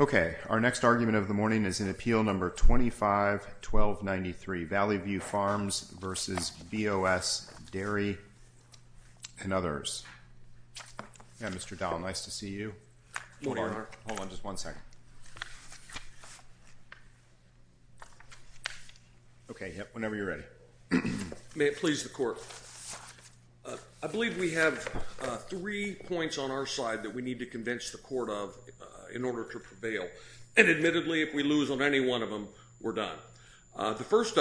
Okay, our next argument of the morning is in Appeal Number 25-1293, Valley View Farms v. BOS Dairy and others. Yeah, Mr. Dowell, nice to see you. Good morning, Your Honor. Hold on just one second. Okay, whenever you're ready. May it please the Court. I believe we have three points on our side that we need to convince the Court of in order to prevail. And admittedly, if we lose on any one of them, we're done. The first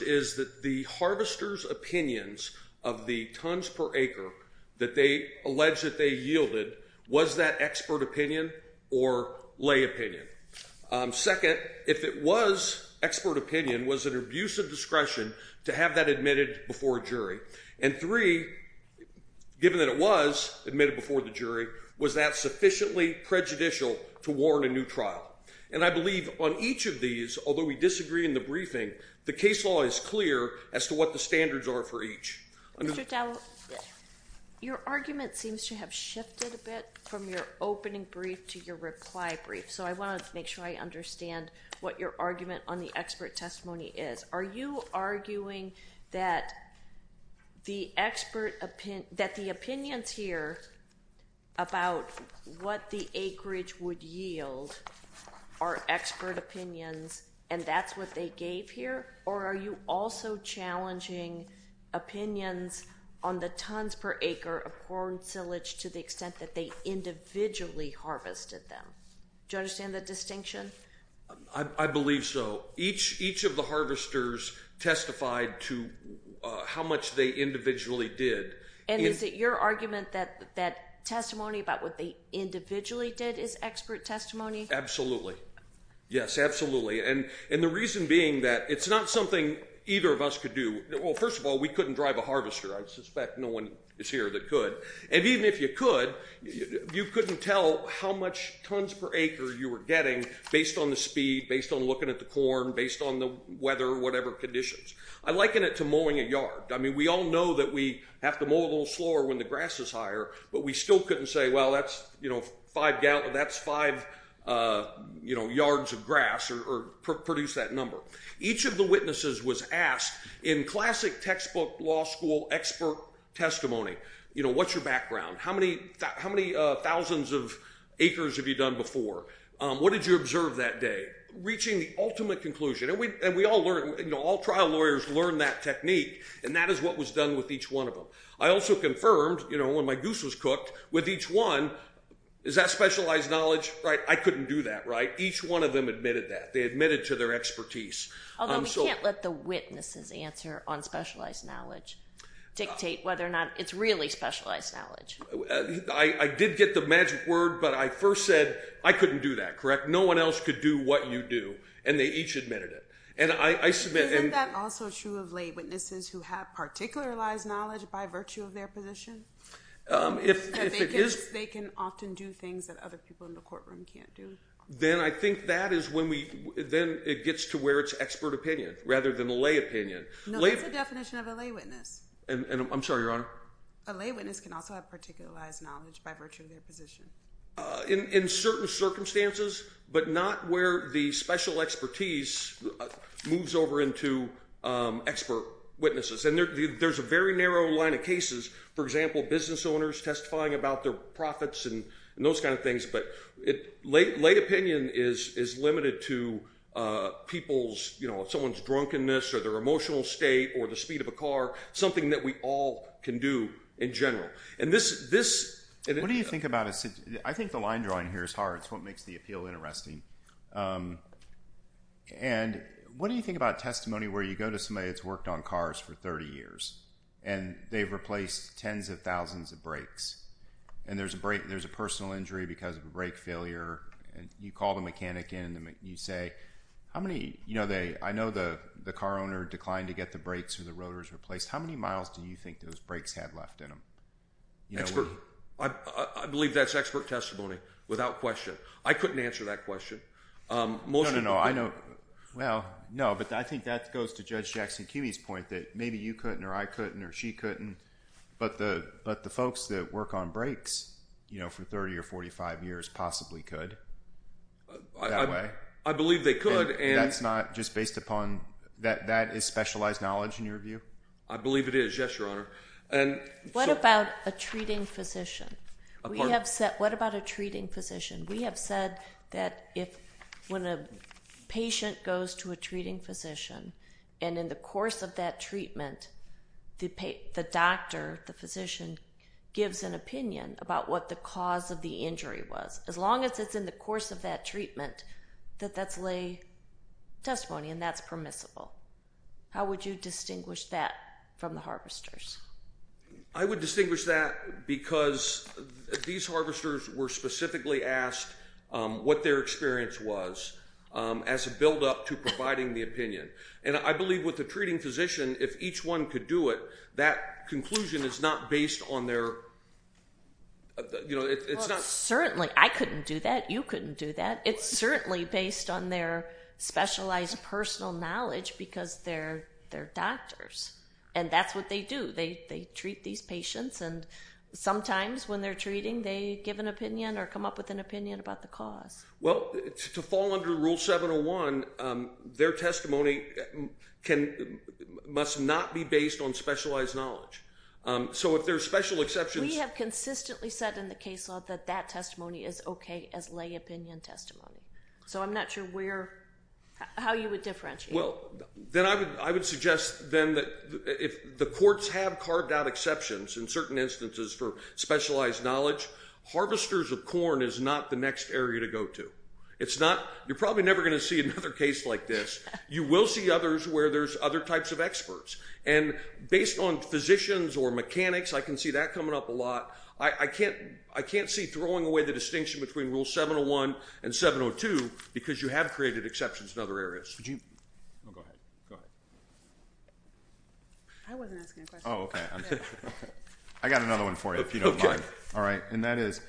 is that the harvester's opinions of the tons per acre that they allege that they yielded, was that expert opinion or lay opinion? Second, if it was expert opinion, was it an abuse of discretion to have that admitted before a jury? And three, given that it was admitted before the jury, was that sufficiently prejudicial to warrant a new trial? And I believe on each of these, although we disagree in the briefing, the case law is clear as to what the standards are for each. Mr. Dowell, your argument seems to have shifted a bit from your opening brief to your reply brief. So I want to make sure I understand what your argument on the expert testimony is. Are you arguing that the opinions here about what the acreage would yield are expert opinions and that's what they gave here? Or are you also challenging opinions on the tons per acre of corn silage to the extent that they individually harvested them? Do you understand the distinction? I believe so. Each of the harvesters testified to how much they individually did. And is it your argument that testimony about what they individually did is expert testimony? Absolutely. Yes, absolutely. And the reason being that it's not something either of us could do. Well, first of all, we couldn't drive a harvester. I suspect no one is here that could. And even if you could, you couldn't tell how much tons per acre you were getting based on the speed, based on looking at the corn, based on the weather or whatever conditions. I liken it to mowing a yard. I mean, we all know that we have to mow a little slower when the grass is higher, but we still couldn't say, well, that's five yards of grass or produce that number. Each of the witnesses was asked in classic textbook law school expert testimony, you know, what's your background? How many thousands of acres have you done before? What did you observe that day? Reaching the ultimate conclusion. And we all learned, you know, all trial lawyers learn that technique. And that is what was done with each one of them. I also confirmed, you know, when my goose was cooked, with each one, is that specialized knowledge? I couldn't do that, right? Each one of them admitted that. They admitted to their expertise. Although we can't let the witnesses' answer on specialized knowledge dictate whether or not it's really specialized knowledge. I did get the magic word, but I first said, I couldn't do that, correct? No one else could do what you do. And they each admitted it. Isn't that also true of lay witnesses who have particularized knowledge by virtue of their position? They can often do things that other people in the courtroom can't do. Then I think that is when we—then it gets to where it's expert opinion rather than a lay opinion. No, that's a definition of a lay witness. And I'm sorry, Your Honor? A lay witness can also have particularized knowledge by virtue of their position. In certain circumstances, but not where the special expertise moves over into expert witnesses. And there's a very narrow line of cases. For example, business owners testifying about their profits and those kind of things. But lay opinion is limited to people's—you know, someone's drunkenness or their emotional state or the speed of a car, something that we all can do in general. And this— What do you think about—I think the line drawing here is hard. It's what makes the appeal interesting. And what do you think about testimony where you go to somebody that's worked on cars for 30 years and they've replaced tens of thousands of brakes and there's a personal injury because of a brake failure and you call the mechanic in and you say, how many—you know, I know the car owner declined to get the brakes or the rotors replaced. How many miles do you think those brakes had left in them? Expert—I believe that's expert testimony without question. I couldn't answer that question. No, no, no, I know. Well, no, but I think that goes to Judge Jackson-Kimey's point that maybe you couldn't or I couldn't or she couldn't. But the folks that work on brakes for 30 or 45 years possibly could that way. I believe they could and— That's not just based upon—that is specialized knowledge in your view? I believe it is, yes, Your Honor. What about a treating physician? We have said—what about a treating physician? We have said that when a patient goes to a treating physician and in the course of that treatment the doctor, the physician, gives an opinion about what the cause of the injury was. As long as it's in the course of that treatment that that's lay testimony and that's permissible. How would you distinguish that from the harvesters? I would distinguish that because these harvesters were specifically asked what their experience was as a buildup to providing the opinion. I believe with the treating physician if each one could do it that conclusion is not based on their— It's not— Certainly, I couldn't do that. You couldn't do that. It's certainly based on their specialized personal knowledge because they're doctors and that's what they do. They treat these patients and sometimes when they're treating they give an opinion or come up with an opinion about the cause. Well, to fall under Rule 701 their testimony must not be based on specialized knowledge. So if there's special exceptions— We have consistently said in the case law that that testimony is okay as lay opinion testimony. So I'm not sure how you would differentiate. Well, then I would suggest then that if the courts have carved out exceptions in certain instances for specialized knowledge harvesters of corn is not the next area to go to. It's not— You're probably never going to see another case like this. You will see others where there's other types of experts and based on physicians or mechanics I can see that coming up a lot. I can't see throwing away the distinction between Rule 701 and 702 because you have created exceptions in other areas. Would you— Oh, go ahead. Go ahead. I wasn't asking a question. Oh, okay. I got another one for you if you don't mind. All right. And that is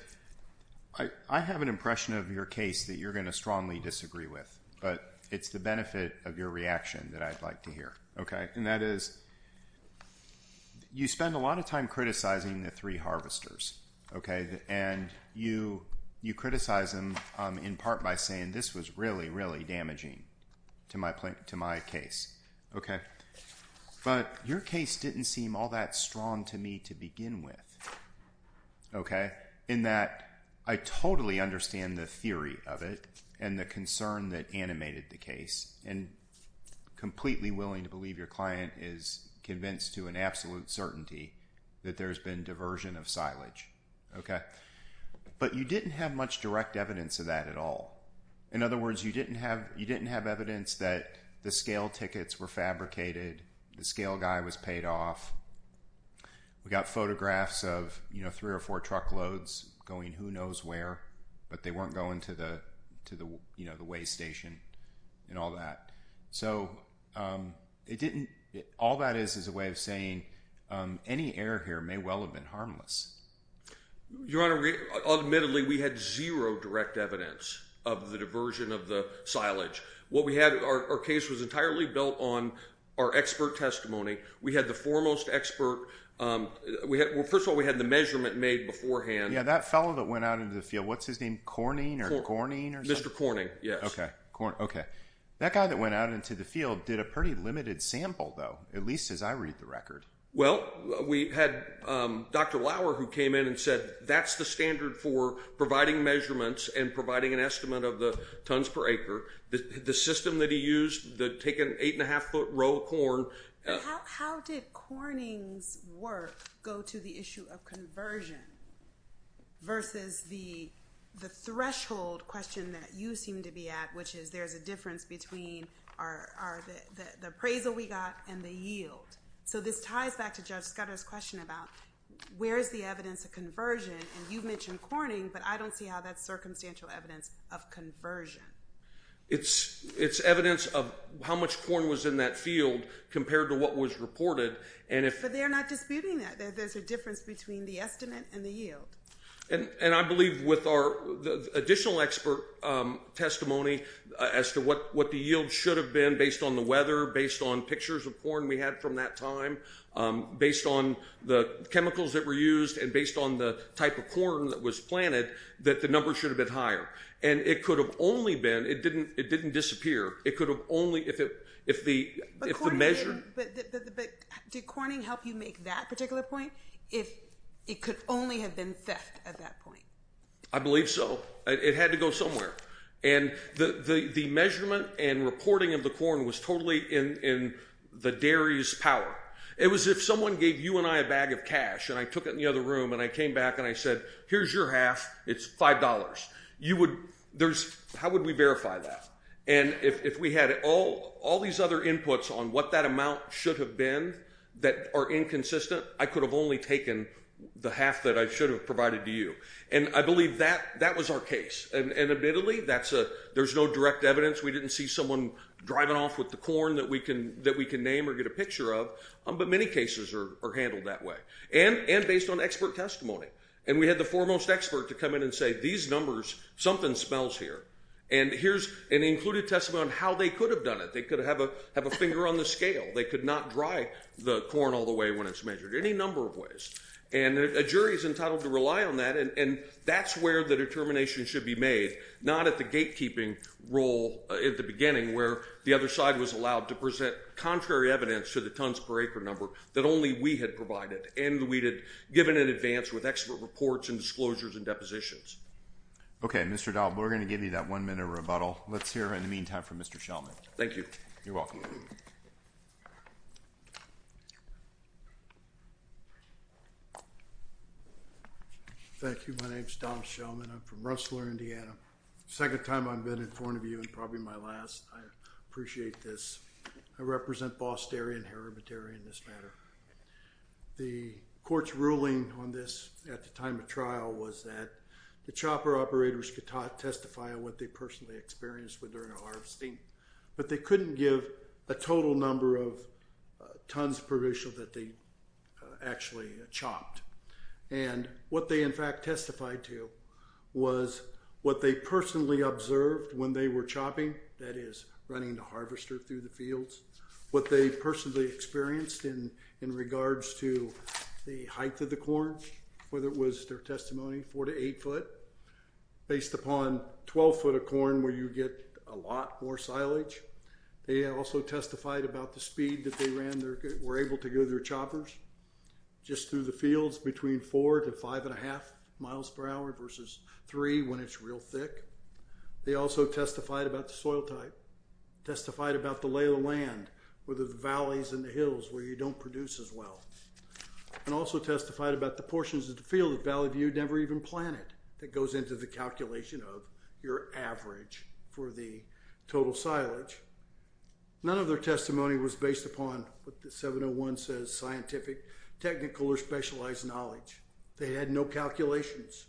I have an impression of your case that you're going to strongly disagree with but it's the benefit of your reaction that I'd like to hear. Okay. And that is you spend a lot of time criticizing the three harvesters. Okay. And you criticize them in part by saying this was really, really damaging to my case. Okay. But your case didn't seem all that strong to me to begin with. Okay. In that I totally understand the theory of it and the concern that animated the case and completely willing to believe your client is convinced to an absolute certainty that there's been diversion of silage. Okay. But you didn't have much direct evidence of that at all. In other words, you didn't have evidence that the scale tickets were fabricated, the scale guy was paid off. We got photographs of, you know, three or four truckloads going who knows where but they weren't going to the, you know, the weigh station and all that. So it didn't, all that is is a way of saying any error here may well have been harmless. Your Honor, admittedly we had zero direct evidence of the diversion of the silage. What we had, our case was entirely built on our expert testimony. We had the foremost expert. First of all, we had the measurement made beforehand. Yeah, that fellow that went out into the field. What's his name? Corning? Mr. Corning, yes. That guy that went out into the field did a pretty limited sample though, at least as I read the record. Well, we had Dr. Lauer who came in and said that's the standard for providing measurements and providing an estimate of the tons per acre. The system that he used, take an eight and a half foot row of corn. How did Corning's work go to the issue of conversion versus the threshold question that you seem to be at which is there's a difference between the appraisal we got and the yield. So this ties back to Judge Scudder's question about where's the evidence of conversion and you've mentioned Corning but I don't see how that's circumstantial evidence of conversion. It's evidence of how much corn was in that field compared to what was reported. But they're not disputing that there's a difference between the estimate and the yield. And I believe with our additional expert testimony as to what the yield should have been based on the weather, based on pictures of corn we had from that time, based on the chemicals that were used and based on the type of corn that was planted that the number should have been higher and it could have only been, it didn't disappear, it could have only if the measure... But did Corning help you make that particular point if it could only have been theft at that point? I believe so. It had to go somewhere. And the measurement and reporting of the corn was totally in the dairy's power. It was if someone gave you and I a bag of cash and I took it in the other room and I came back and I said here's your half, it's five dollars. How would we verify that? And if we had all these other inputs on what that amount should have been that are inconsistent, I could have only taken the half that I should have provided to you. And I believe that was our case. And admittedly, there's no direct evidence. We didn't see someone driving off with the corn that we can name or get a picture of. But many cases are handled that way. And based on expert testimony. And we had the foremost expert to come in and say these numbers, something smells here. And here's an included testimony on how they could have done it. They could have a finger on the scale. They could not dry the corn all the way when it's measured. Any number of ways. And a jury is entitled to rely on that. And that's where the determination should be made. Not at the gatekeeping role at the beginning where the other side was allowed to present contrary evidence to the tons per acre number that only we had provided and we had given in advance with expert reports and disclosures and depositions. Okay, Mr. Dahl. We're going to give you that one minute rebuttal. Let's hear in the meantime from Mr. Shelman. Thank you. You're welcome. Thank you. My name is Don Shelman. I'm from Rustler, Indiana. Second time I've been in front of you and probably my last. I appreciate this. I represent Boston and hermit area in this matter. The court's ruling on this at the time of trial was that the chopper operators could testify on what they personally experienced with their harvesting. But they couldn't give a total number of tons per acre that they actually chopped. And what they in fact testified to was what they personally observed when they were chopping, that is running the harvester through the fields. What they personally experienced in regards to the height of the corn, whether it was their testimony, four to eight foot, based upon 12 foot of corn where you get a lot more silage. They also testified about the speed that they were able to go their choppers just through the fields between four to five and a half miles per hour versus three when it's real thick. They also testified about the soil type, testified about the lay of the land with the valleys and the hills where you don't produce as well. And also testified about the portions of the field that Valley View never even planted that goes into the calculation of your average for the total silage. None of their testimony was based upon what the 701 says, scientific, technical or specialized knowledge. They had no calculations.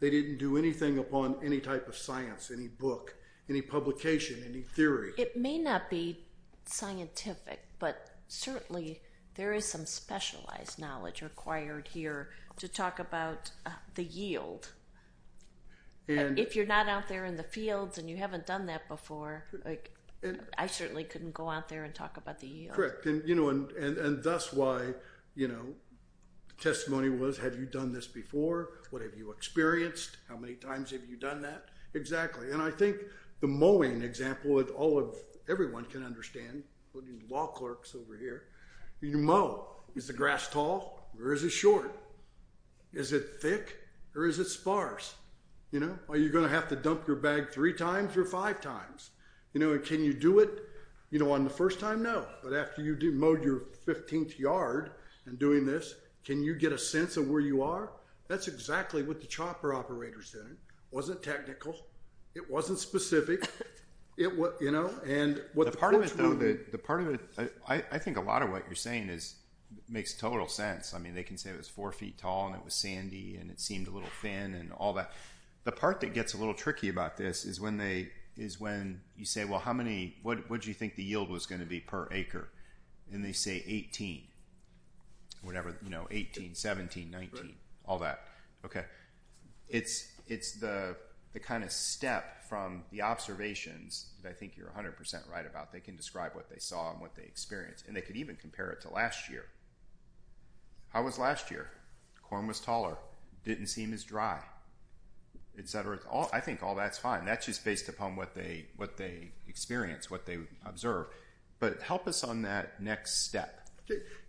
They didn't do anything upon any type of science, any book, any publication, any theory. It may not be scientific, but certainly there is some specialized knowledge required here to talk about the yield. If you're not out there in the fields and you haven't done that before, I certainly couldn't go out there and talk about the yield. And thus why testimony was, have you done this before? What have you experienced? How many times have you done that? Exactly. And I think the mowing example that everyone can understand, including law clerks over here, you mow. Is the grass tall or is it short? Is it thick or is it sparse? Are you going to have to dump your bag three times or five times? Can you do it on the first time? No. But after you mowed your 15th yard and doing this, can you get a sense of where you are? That's exactly what the chopper operator said. It wasn't technical. It wasn't specific. The part of it, I think a lot of what you're saying makes total sense. I mean, they can say it was four feet tall and it was sandy and it seemed a little thin and all that. The part that gets a little tricky about this is when you say, well, what did you think the yield was going to be per acre? And they say 18, whatever, 18, 17, 19, all that. Okay. It's the kind of step from the observations that I think you're 100% right about. They can describe what they saw and what they experienced and they could even compare it to last year. How was last year? Corn was taller, didn't seem as dry, etc. I think all that's fine. That's just based upon what they experienced, what they observed. But help us on that next step.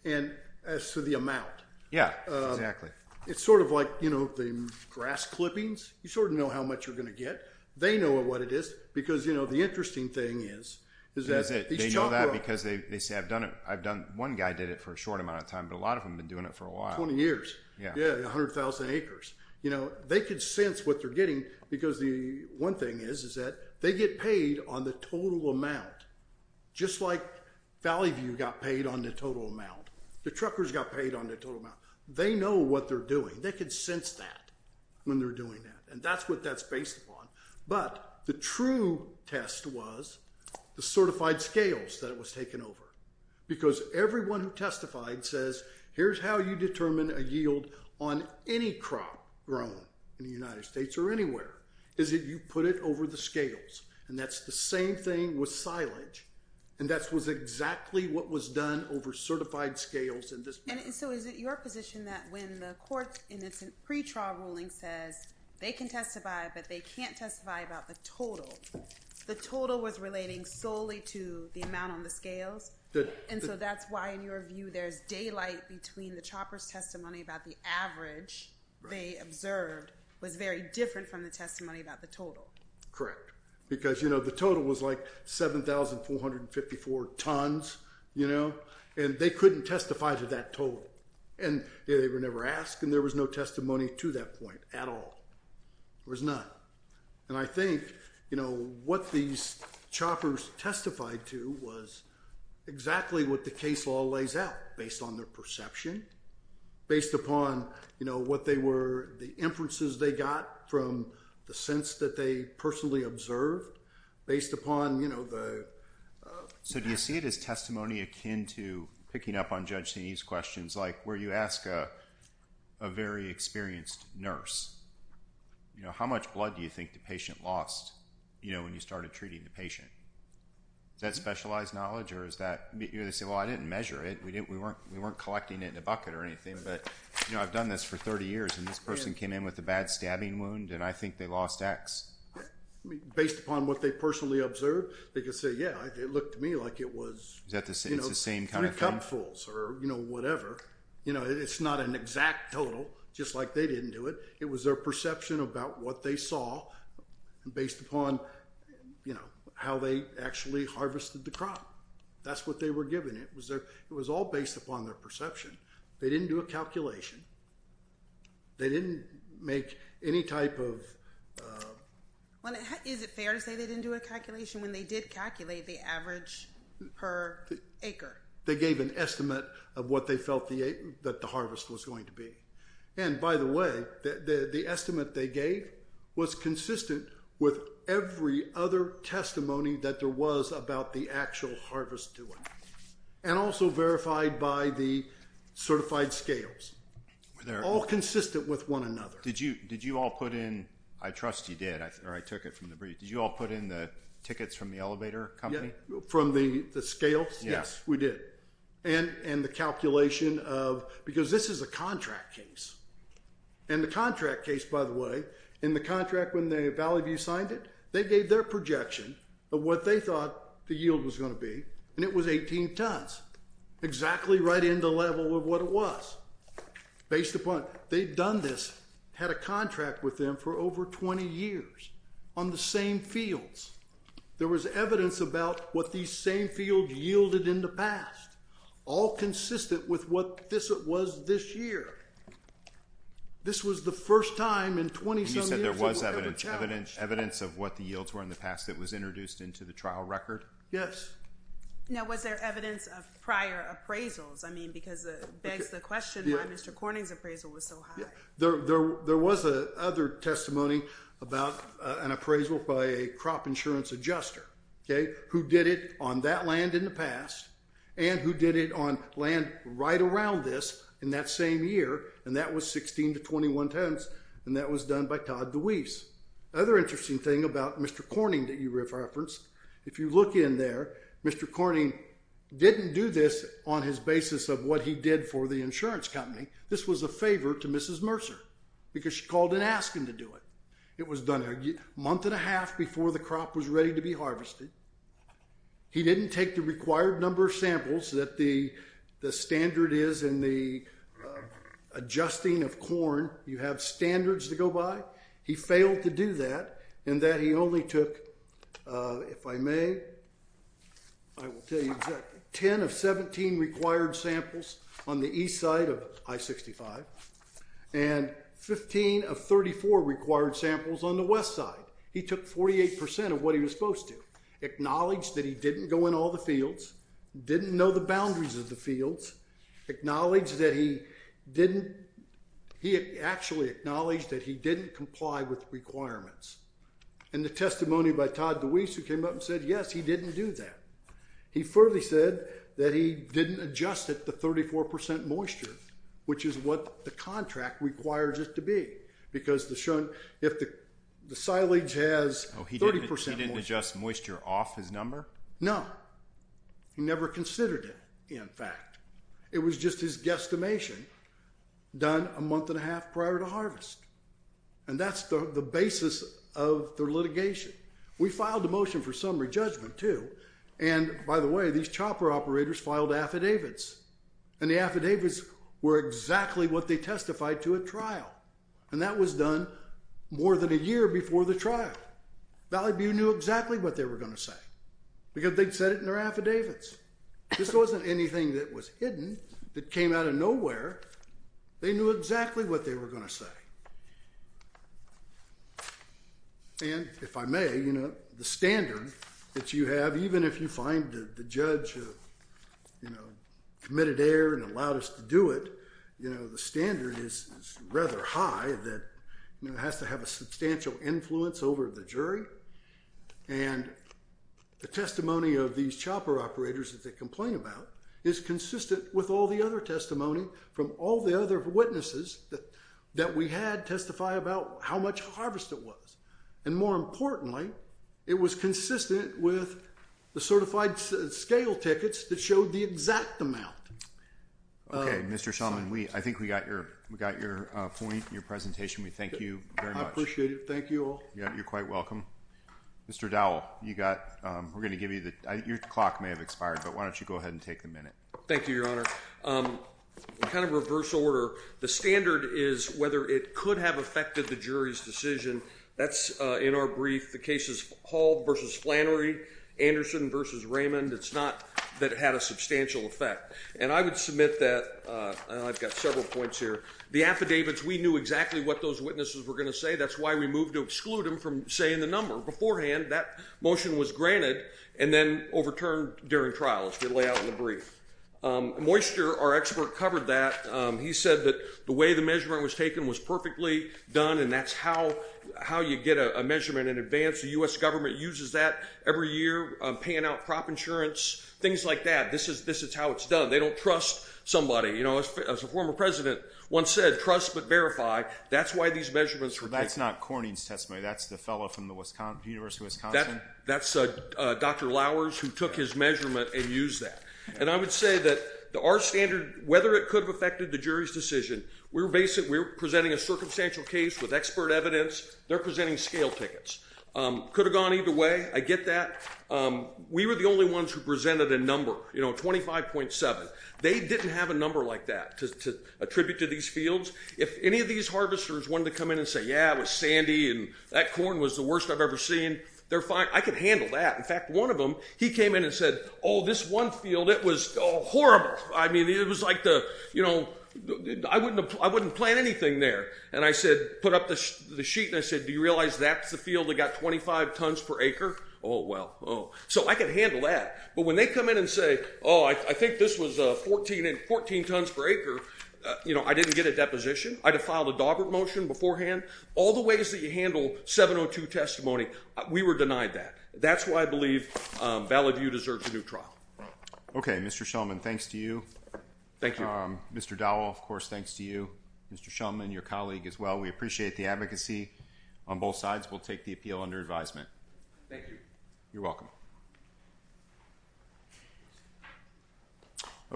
And so the amount. Yeah, exactly. It's sort of like, you know, the grass clippings. You sort of know how much you're going to get. They know what it is because, you know, the interesting thing is is that they know that because they say, I've done it. I've done, one guy did it for a short amount of time, but a lot of them have been doing it for a while. 20 years. Yeah. Yeah. 100,000 acres. You know, they could sense what they're getting because the one thing is is that they get paid on the total amount. Just like Valley View got paid on the total amount. The truckers got paid on the total amount. They know what they're doing. They could sense that when they're doing that. And that's what that's based upon. But the true test was the certified scales that it was taken over. Because everyone who testified says here's how you determine a yield on any crop grown in the United States or anywhere. Is that you put it over the scales. And that's the same thing with silage. And that was exactly what was done over certified scales in this. And so is it your position that when the courts and it's a pre-trial ruling says they can testify but they can't testify about the total. The total was relating solely to the amount on the scales. And so that's why in your view there's daylight between the chopper's testimony about the average they observed was very different from the testimony about the total. Correct. Because you know the total was like 7,454 tons. You know. And they couldn't testify to that total. And they were never asked. And there was no testimony to that point at all. There was none. And I think you know what these choppers testified to was exactly what the case law lays out based on their perception. Based upon you know what they were the inferences they got from the sense that they personally observed based upon you know the So do you see it as testimony akin to picking up on Judge Saney's questions like where you ask a very experienced nurse you know how much blood do you think the patient lost you know when you started treating the patient? Is that specialized knowledge or is that you know they say well I didn't measure it we didn't we weren't we weren't collecting it in a bucket or anything but you know I've done this for 30 years and this person came in with a bad stabbing wound and I think they lost X. Based upon what they personally observed they can say yeah it looked to me like it was you know three cupfuls or you know whatever you know it's not an exact total just like they didn't do it it was their perception about what they saw based upon you know how they actually harvested the crop that's what they were given it was their it was all based upon their perception they didn't do a calculation they didn't make any type of well is it fair to say they didn't do a calculation when they did calculate the average per acre they gave an estimate of what they felt that the harvest was going to be and by the way the estimate they gave was consistent with every other testimony that there was about the actual harvest doing and also verified by the certified scales they're all consistent with one another did you did you all put in I trust you did or I took it from the brief did you all put in the tickets from the elevator company from the scales yes we did and the calculation of because this is a contract case and the contract case by the way in the contract when the Valley View signed it they gave their projection of what they thought the yield was going to be and it was 18 tons exactly right in the level of what it was based upon they've done this had a contract with them for over 20 years on the same fields there was evidence about what these same fields yielded in the past all consistent with what this was this year this was the first time in 20 years there was evidence evidence of what the yields were in the past that was introduced into the trial record yes now was there evidence of prior appraisals I mean because it begs the question why Mr. Corning's appraisal was so high there was a other testimony about an appraisal by a crop insurance adjuster who did it on that land in the past and who did it on land right around this in that same year and that was 16-21 tons and that was done by Todd DeWeese other interesting thing about Mr. Corning that you referenced if you look in there Mr. Corning didn't do this on his basis of what he did for the insurance company this was a favor to Mrs. Mercer because she called and asked him to do it it was done a month and a half before the crop was ready to be harvested he didn't take the required number of that the standard is in the adjusting of corn you have 17 required samples on the east side of I-65 and 15 of 34 required samples on the west side he took 48% of what he was supposed to acknowledged that he didn't go in all the didn't know the boundaries of the acknowledged that he didn't he actually acknowledged that he didn't adjust it to 34% moisture which is what the contract requires it to be because if the silage has 30% moisture off his number no he never considered it in fact it was just his guesstimation done a month and a half prior to harvest and that's the basis of the litigation we filed a motion for summary judgment too and by the way these chopper operators filed affidavits and the were exactly what they testified to at trial and that was done more than a year before the trial Valley View knew exactly what they were going to say because they said it in their affidavits this wasn't anything that came out of nowhere they knew exactly what they were going to say and if I may the standard that you have even if you find the judge committed error and allowed us to do it the standard is rather high that has to have a substantial influence over the and the testimony that we from the other witnesses that we had test testify about how much harvest it was and more importantly it was consistent with the certified scale tickets that showed the exact amount of something we think we got from the witnesses that showed the exact something we think we got from the other witnesses that showed the exact amount of something we think we got from the other witnesses that the think we got from the other amount of something we we got from the other witnesses exact think we got from the other witnesses that showed the exact amount of something we think we got from the other witnesses that the exact something we think we got from the other witnesses that showed the exact amount something think we got from other witnesses that showed the exact amount of something we think we got from the other witnesses that showed the exact amount of something we something